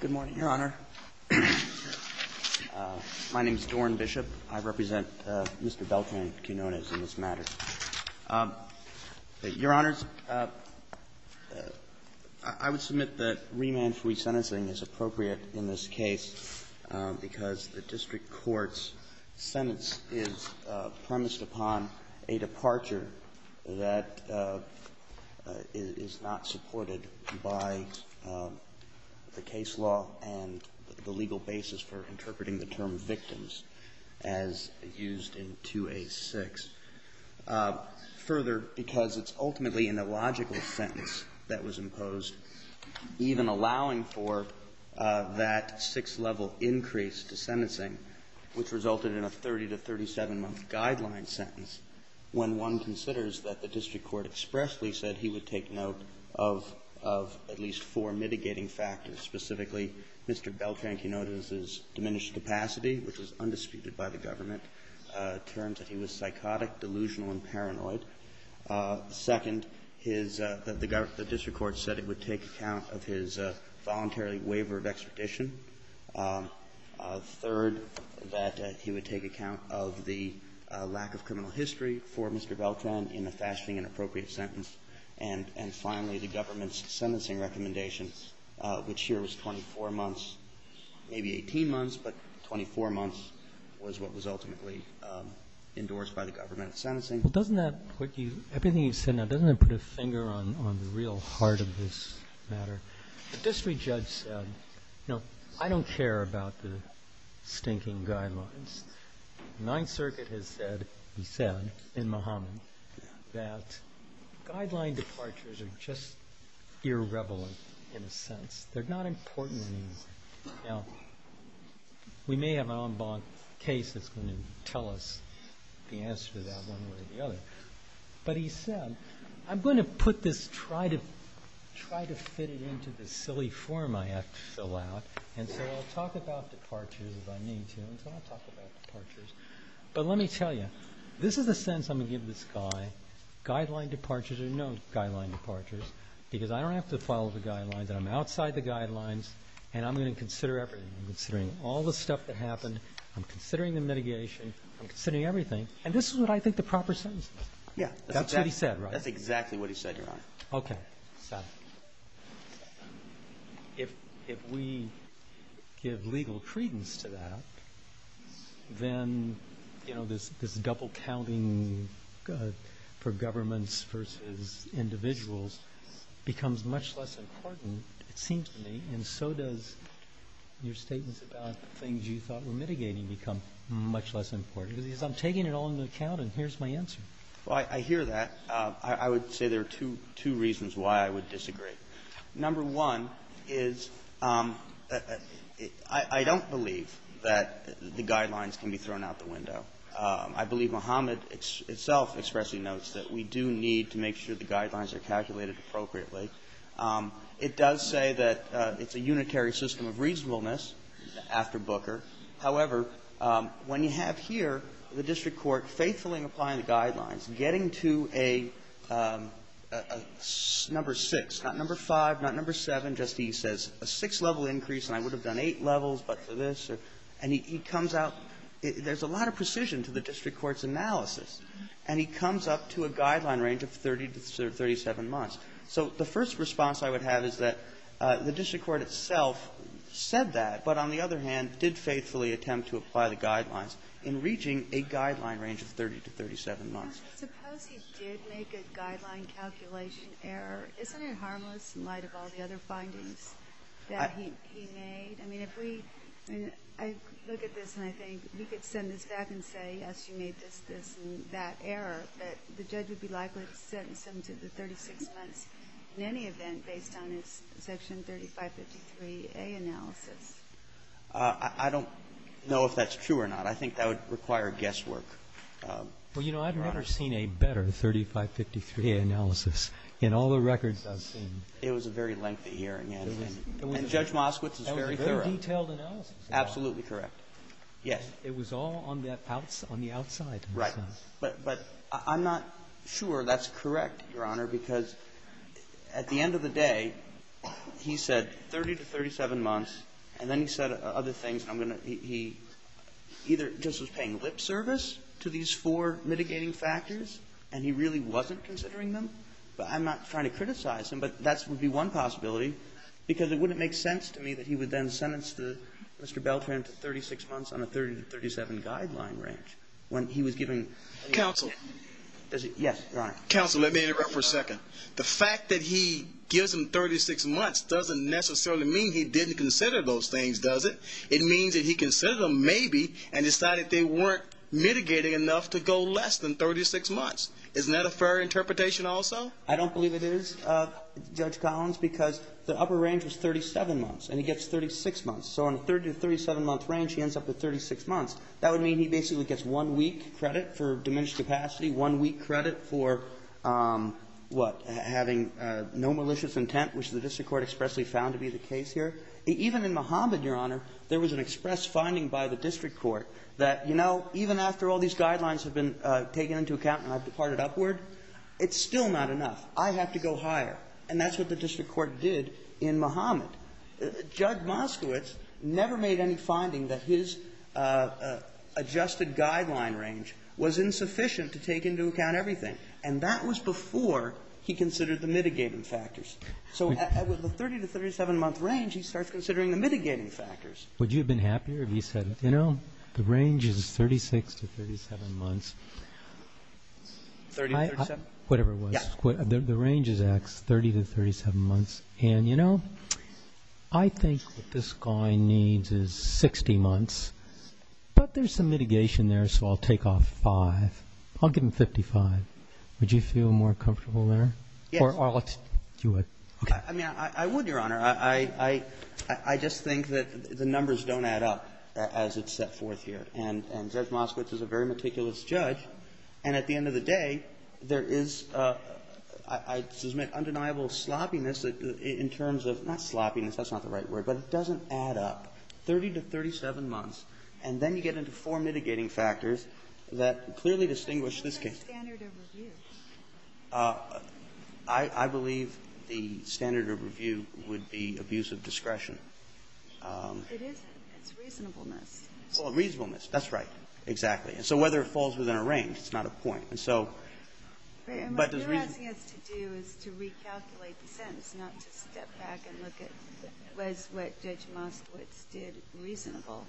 Good morning, Your Honor. My name is Doran Bishop. I represent Mr. Beltran-Quinonez in this matter. Your Honors, I would submit that remand-free sentencing is appropriate in this case because the district court's sentence is premised upon a departure that is not supported by the case law and the legal basis for interpreting the term victims, as used in 2A-6. Further, because it's ultimately an illogical sentence that was imposed, even allowing for that sixth-level increase to sentencing, which resulted in a 30- to 37-month guideline sentence, when one considers that the district court expressly said he would take note of at least four mitigating factors, specifically, Mr. Beltran-Quinonez's diminished capacity, which was undisputed by the government, terms that he was psychotic, delusional, and paranoid. Second, his — the district court said it would take account of his voluntarily waiver of extradition. Third, that he would take account of the lack of criminal history for Mr. Beltran in a fashioning and appropriate sentence. And finally, the government's sentencing recommendation, which here was 24 months, maybe 18 months, but 24 months was what was ultimately endorsed by the government in sentencing. Well, doesn't that put you — everything you've said now, doesn't that put a finger on the real heart of this matter? The district judge said, you know, I don't care about the stinking guidelines. The Ninth Circuit has said, he said, in Muhammad, that guideline departures are just irrevelant in a sense. They're not important in any way. Now, we may have an en banc case that's going to tell us the answer to that one way or the other. But he said, I'm going to put this — try to fit it into this silly form I have to fill out. And so I'll talk about departures as I need to, and so I'll talk about departures. But let me tell you, this is the sense I'm going to give this guy. Guideline departures are no guideline departures, because I don't have to follow the guidelines, and I'm outside the guidelines, and I'm going to consider everything. I'm considering all the stuff that happened. I'm considering the mitigation. I'm considering everything. And this is what I think the proper sentence is. Yeah. That's what he said, right? That's exactly what he said, Your Honor. Okay. So if we give legal credence to that, then, you know, this double counting for governments versus individuals becomes much less important, it seems to me. And so does your statements about things you thought were mitigating become much less important? Because I'm taking it all into account, and here's my answer. Well, I hear that. I would say there are two reasons why I would disagree. Number one is I don't believe that the guidelines can be thrown out the window. I believe Muhammad itself expressly notes that we do need to make sure the guidelines are calculated appropriately. It does say that it's a unitary system of reasonableness after Booker. However, when you have here the district court faithfully applying the guidelines, getting to a number 6, not number 5, not number 7, just he says a 6-level increase and I would have done 8 levels but for this, and he comes out, there's a lot of precision to the district court's analysis. And he comes up to a guideline range of 30 to 37 months. So the first response I would have is that the district court itself said that, but on the other hand, did faithfully attempt to apply the guidelines in reaching a guideline range of 30 to 37 months. Suppose he did make a guideline calculation error. Isn't it harmless in light of all the other findings that he made? I mean, if we, I mean, I look at this and I think we could send this back and say, yes, you made this, this and that error, but the judge would be likely to send some to the 36 months in any event based on his Section 3553A analysis. I don't know if that's true or not. I think that would require guesswork. Well, you know, I've never seen a better 3553A analysis in all the records I've seen. It was a very lengthy hearing and Judge Moskowitz is very thorough. It was a very detailed analysis. Absolutely correct. Yes. It was all on the outside. Right. But I'm not sure that's correct, Your Honor, because at the end of the day, he said 30 to 37 months and then he said other things. I'm going to, he either just was paying lip service to these four mitigating factors and he really wasn't considering them, but I'm not trying to criticize him, but that would be one possibility because it wouldn't make sense to me that he would then sentence Mr. Beltran to 36 months on a 30 to 37 guideline range when he was giving. Counsel. Yes, Your Honor. Counsel, let me interrupt for a second. The fact that he gives him 36 months doesn't necessarily mean he didn't consider those things, does it? It means that he considered them maybe and decided they weren't mitigating enough to go less than 36 months. Isn't that a fair interpretation also? I don't believe it is, Judge Collins, because the upper range was 37 months and he gets 36 months. So on a 30 to 37 month range, he ends up with 36 months. That would mean he basically gets one week credit for diminished capacity, one week credit for, what, having no malicious intent, which the district court expressly found to be the case here. Even in Muhammad, Your Honor, there was an express finding by the district court that, you know, even after all these guidelines have been taken into account and I've departed upward, it's still not enough. I have to go higher. And that's what the district court did in Muhammad. Judge Moskowitz never made any finding that his adjusted guideline range was insufficient to take into account everything. And that was before he considered the mitigating factors. So with the 30 to 37 month range, he starts considering the mitigating factors. Would you have been happier if he said, you know, the range is 36 to 37 months? 30 to 37? Whatever it was. Yeah. The range is X, 30 to 37 months. And, you know, I think what this guy needs is 60 months. But there's some mitigation there, so I'll take off 5. I'll give him 55. Would you feel more comfortable there? Yes. Or I'll do it. Okay. I mean, I would, Your Honor. I just think that the numbers don't add up as it's set forth here. And Judge Moskowitz is a very meticulous judge. And at the end of the day, there is, I'd submit, undeniable sloppiness in terms of, not sloppiness, that's not the right word, but it doesn't add up. 30 to 37 months, and then you get into four mitigating factors that clearly distinguish this case. What's the standard of review? I believe the standard of review would be abuse of discretion. It isn't. It's reasonableness. Well, reasonableness. That's right. Exactly. And so whether it falls within a range, it's not a point. And so, but the reason. What you're asking us to do is to recalculate the sentence, not to step back and look at whether it was what Judge Moskowitz did reasonable.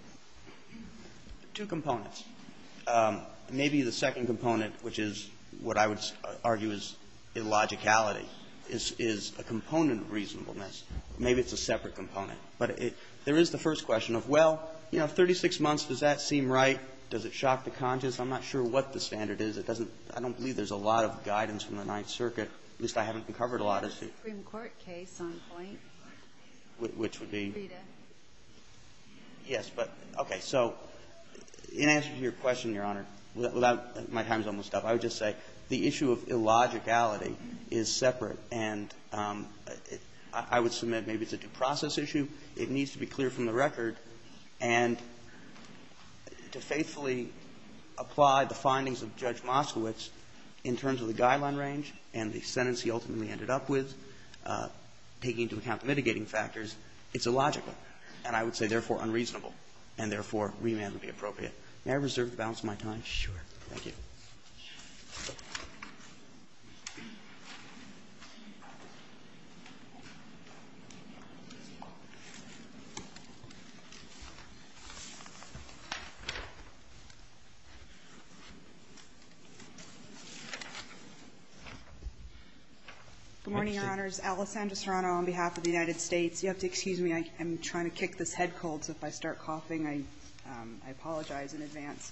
Two components. Maybe the second component, which is what I would argue is illogicality, is a component of reasonableness. Maybe it's a separate component. But there is the first question of, well, you know, 36 months, does that seem right? Does it shock the conscience? I'm not sure what the standard is. It doesn't, I don't believe there's a lot of guidance from the Ninth Circuit. At least I haven't covered a lot of it. It's a Supreme Court case on point. Which would be? Rita. Yes. But, okay. So in answer to your question, Your Honor, my time's almost up. I would just say the issue of illogicality is separate. And I would submit maybe it's a due process issue. It needs to be clear from the record. And to faithfully apply the findings of Judge Moskowitz in terms of the guideline range and the sentence he ultimately ended up with, taking into account the mitigating factors, it's illogical. And I would say, therefore, unreasonable. And, therefore, remand would be appropriate. May I reserve the balance of my time? Sure. Thank you. Good morning, Your Honors. Alice Andresano on behalf of the United States. You have to excuse me. I'm trying to kick this head cold. So if I start coughing, I apologize in advance.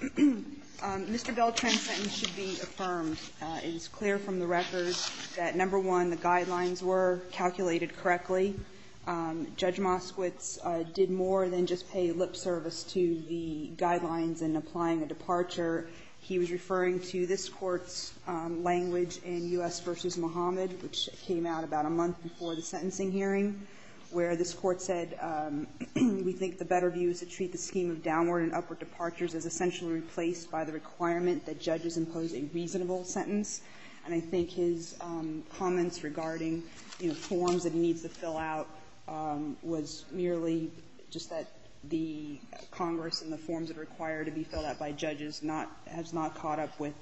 Mr. Beltran's sentence should be affirmed. It is clear from the record that, number one, the guidelines were calculated correctly. Judge Moskowitz did more than just pay lip service to the guidelines in applying a departure. He was referring to this Court's language in U.S. v. Muhammad, which came out about a month before the sentencing hearing, where this Court said, we think the better view is to treat the scheme of downward and upward departures as essentially replaced by the requirement that judges impose a reasonable sentence. And I think his comments regarding, you know, forms that he needs to fill out was merely just that the Congress and the forms that are required to be filled out by judges has not caught up with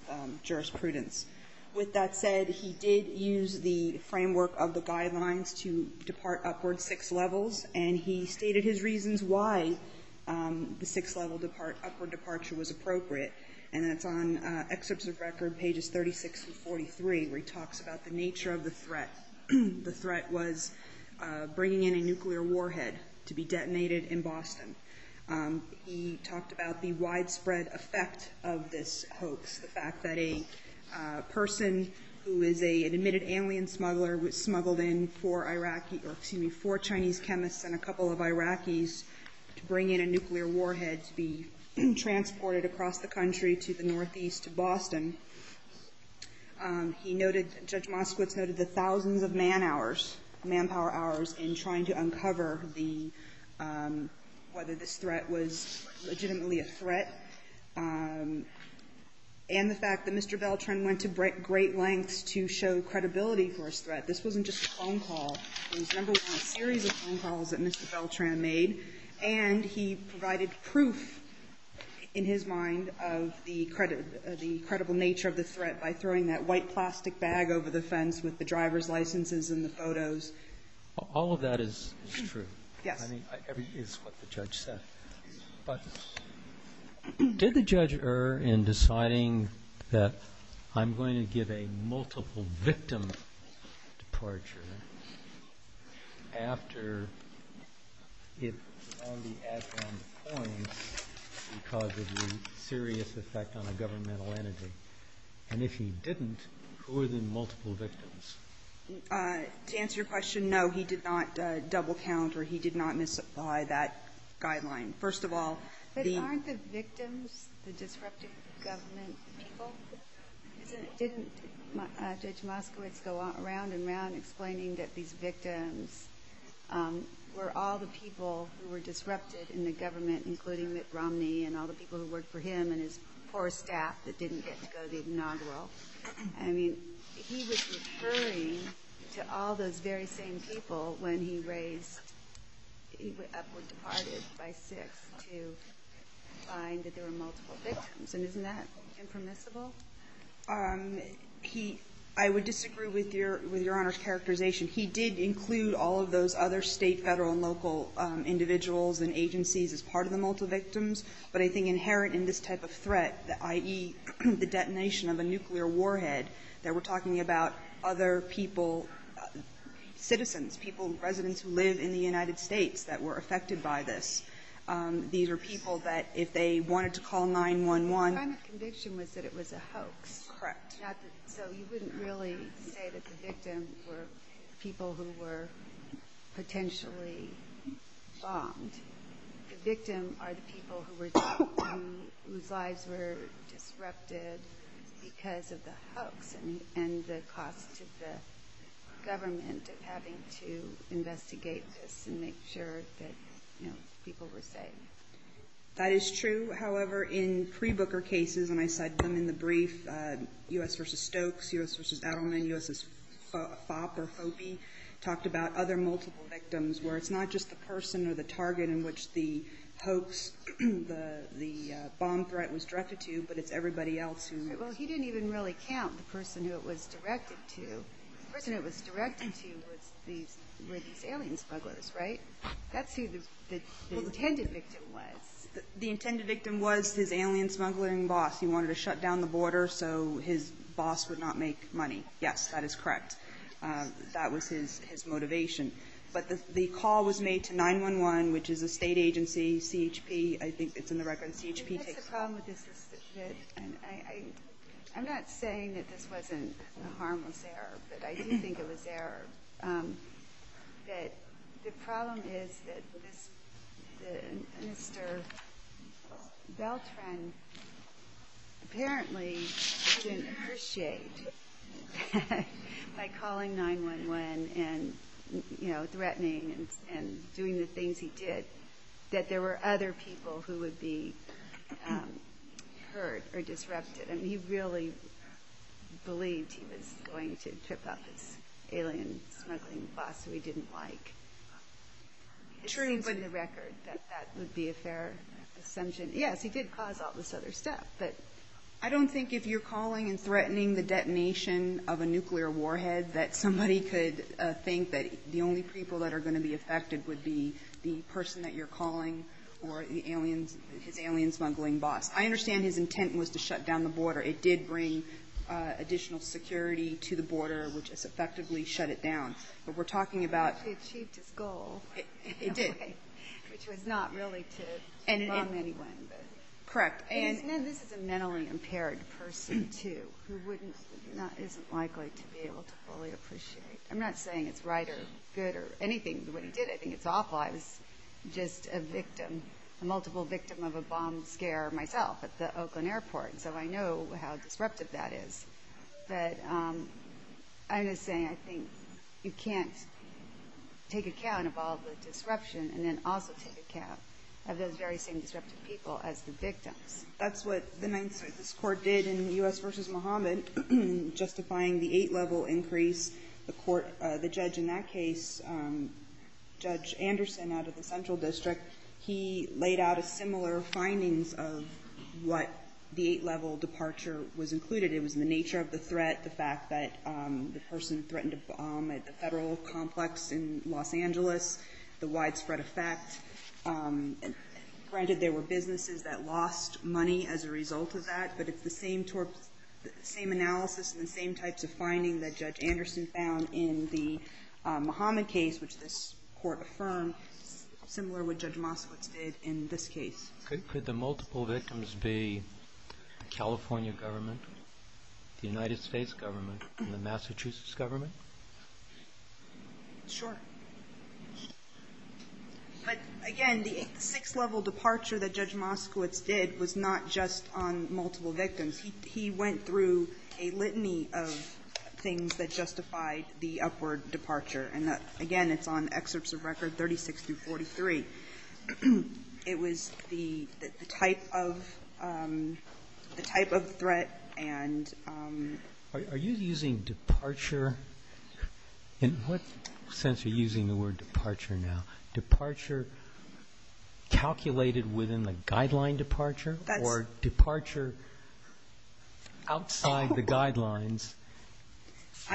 jurisprudence. With that said, he did use the framework of the guidelines to depart upward six levels, and he stated his reasons why the six-level upward departure was appropriate. And that's on excerpts of record, pages 36 through 43, where he talks about the nature of the threat. The threat was bringing in a nuclear warhead to be detonated in Boston. He talked about the widespread effect of this hoax, the fact that a person who is an admitted alien smuggler was smuggled in for Iraqi or excuse me, for Chinese chemists and a couple of Iraqis to bring in a nuclear warhead to be transported across the country to the northeast of Boston. He noted, Judge Moskowitz noted the thousands of man hours, manpower hours, in trying to uncover the, whether this threat was legitimately a threat, and the fact that Mr. Beltran went to great lengths to show credibility for his threat. This wasn't just a phone call. It was, number one, a series of phone calls that Mr. Beltran made, and he provided proof, in his mind, of the credible nature of the threat by throwing that white plastic bag over the fence with the driver's licenses and the photos. All of that is true. Yes. I mean, it's what the judge said. But did the judge err in deciding that I'm going to give a multiple-victim departure after it was found he had found the coins because of the serious effect on a governmental entity? And if he didn't, who were the multiple victims? To answer your question, no, he did not double-count or he did not misapply that guideline. First of all, the But aren't the victims the disruptive government people? Didn't Judge Moskowitz go round and round explaining that these victims were all the people who were disrupted in the government, including Mitt Romney and all the people who worked for him and his poor staff that didn't get to go to the Inaugural? I mean, he was referring to all those very same people when he raised, he departed by six to find that there were multiple victims. And isn't that impermissible? He, I would disagree with your Honor's characterization. He did include all of those other State, Federal, and local individuals and agencies as part of the multiple victims. But I think inherent in this type of threat, i.e., the detonation of a nuclear warhead, that we're talking about other people, citizens, people, residents who live in the United States that were affected by this. These are people that if they wanted to call 911 The crime of conviction was that it was a hoax. Correct. So you wouldn't really say that the victims were people who were potentially bombed. The victims are the people whose lives were disrupted because of the hoax and the cost to the government of having to investigate this and make sure that people were safe. That is true. However, in pre-Booker cases, and I cite them in the brief, U.S. v. Stokes, U.S. v. Adelman, U.S. v. Fopp or Foppe talked about other multiple victims where it's not just the person or the target in which the hoax, the bomb threat was directed to, but it's everybody else who Well, he didn't even really count the person who it was directed to. The person it was directed to were these alien smugglers, right? That's who the intended victim was. The intended victim was his alien smuggling boss. He wanted to shut down the border so his boss would not make money. Yes, that is correct. That was his motivation. But the call was made to 911, which is a state agency, CHP. I think it's in the record. CHP takes the call. I think that's the problem with this. I'm not saying that this wasn't a harmless error, but I do think it was error. The problem is that Mr. Beltran apparently didn't appreciate, by calling 911 and threatening and doing the things he did, that there were other people who would be hurt or disrupted. I mean, he really believed he was going to trip up his alien smuggling boss who he didn't like. It seems in the record that that would be a fair assumption. Yes, he did cause all this other stuff, but I don't think if you're calling and threatening the detonation of a nuclear warhead that somebody could think that the only people that are going to be affected would be the person that you're calling or his alien smuggling boss. I understand his intent was to shut down the border. It did bring additional security to the border, which has effectively shut it down. But we're talking about... He achieved his goal. It did. Which was not really to wrong anyone. Correct. This is a mentally impaired person, too, who isn't likely to be able to fully appreciate. I'm not saying it's right or good or anything. When he did it, I think it's awful. I was just a victim, a multiple victim of a bomb scare myself at the Oakland airport, so I know how disruptive that is. But I'm just saying I think you can't take account of all the disruption and then also take account of those very same disruptive people as the victims. That's what the Ninth Circuit's court did in U.S. v. Mohammed, justifying the eight-level increase. The judge in that case, Judge Anderson out of the Central District, he laid out similar findings of what the eight-level departure was included. It was the nature of the threat, the fact that the person threatened a bomb at the federal complex in Los Angeles, the widespread effect. Granted, there were businesses that lost money as a result of that, but it's the same analysis and the same types of findings that Judge Anderson found in the Mohammed case, which this court affirmed, similar to what Judge Moskowitz did in this case. Could the multiple victims be the California government, the United States government, and the Massachusetts government? Sure. But again, the six-level departure that Judge Moskowitz did was not just on multiple victims. He went through a litany of things that justified the upward departure. And again, it's on excerpts of Record 36 through 43. It was the type of threat and... Are you using departure? In what sense are you using the word departure now? Is departure calculated within the guideline departure or departure outside the guidelines,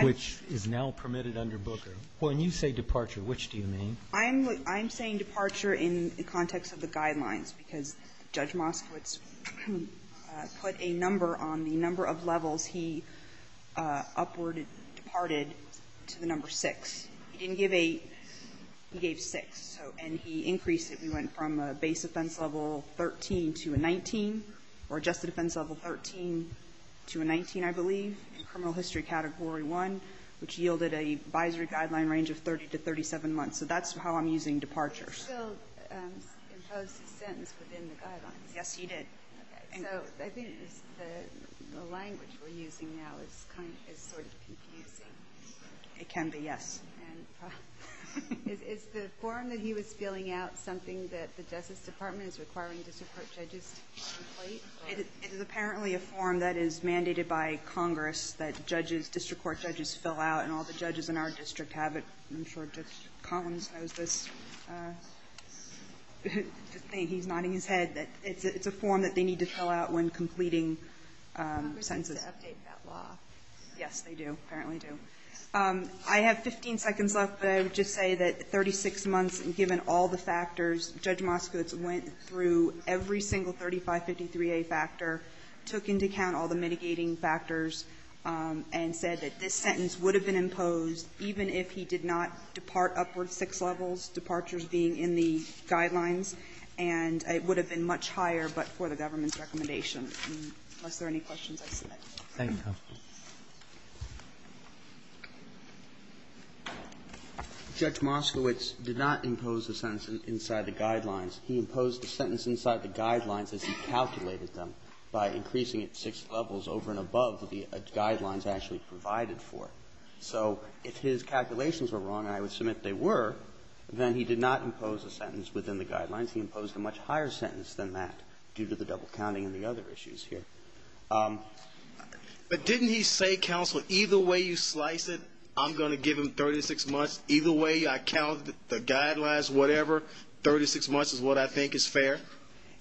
which is now permitted under Booker? When you say departure, which do you mean? I'm saying departure in the context of the guidelines because Judge Moskowitz put a number on the number of levels he upward departed to the number six. He didn't give eight. He gave six. And he increased it. He went from a base offense level 13 to a 19, or just a defense level 13 to a 19, I believe, in criminal history category one, which yielded a advisory guideline range of 30 to 37 months. So that's how I'm using departures. He still imposed his sentence within the guidelines. Yes, he did. Okay. So I think the language we're using now is sort of confusing. It can be, yes. Is the form that he was filling out something that the Justice Department is requiring district court judges to complete? It is apparently a form that is mandated by Congress that district court judges fill out and all the judges in our district have it. I'm sure Judge Collins knows this. He's nodding his head. It's a form that they need to fill out when completing sentences. Congress needs to update that law. Yes, they do, apparently do. I have 15 seconds left, but I would just say that 36 months, given all the factors, Judge Moskowitz went through every single 3553A factor, took into account all the mitigating factors, and said that this sentence would have been imposed even if he did not depart upward six levels, departures being in the guidelines, and it would have been much higher but for the government's recommendation. Unless there are any questions, I submit. Thank you, counsel. Judge Moskowitz did not impose the sentence inside the guidelines. He imposed the sentence inside the guidelines as he calculated them by increasing it six levels over and above the guidelines actually provided for. So if his calculations were wrong, and I would submit they were, then he did not impose a sentence within the guidelines. He imposed a much higher sentence than that due to the double counting and the other issues here. But didn't he say, counsel, either way you slice it, I'm going to give him 36 months, either way I count the guidelines, whatever, 36 months is what I think is fair?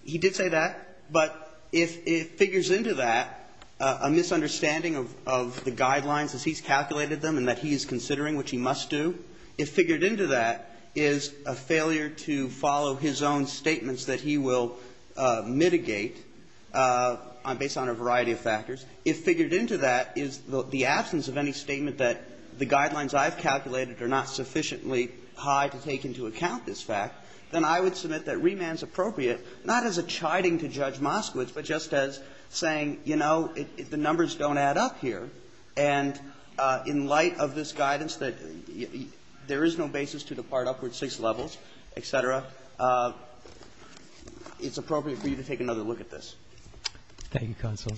He did say that. But if it figures into that a misunderstanding of the guidelines as he's calculated them and that he's considering, which he must do, if figured into that is a failure to follow his own statements that he will mitigate based on a variety of factors, if figured into that is the absence of any statement that the guidelines I've calculated are not sufficiently high to take into account this fact, then I would submit that remand is appropriate, not as a chiding to Judge Moskowitz, but just as saying, you know, the numbers don't add up here. And in light of this guidance that there is no basis to depart upward six levels, et cetera, it's appropriate for you to take another look at this. Thank you, counsel.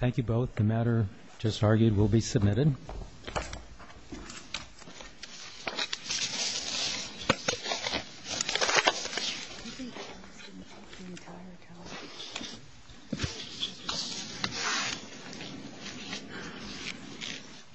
Thank you both.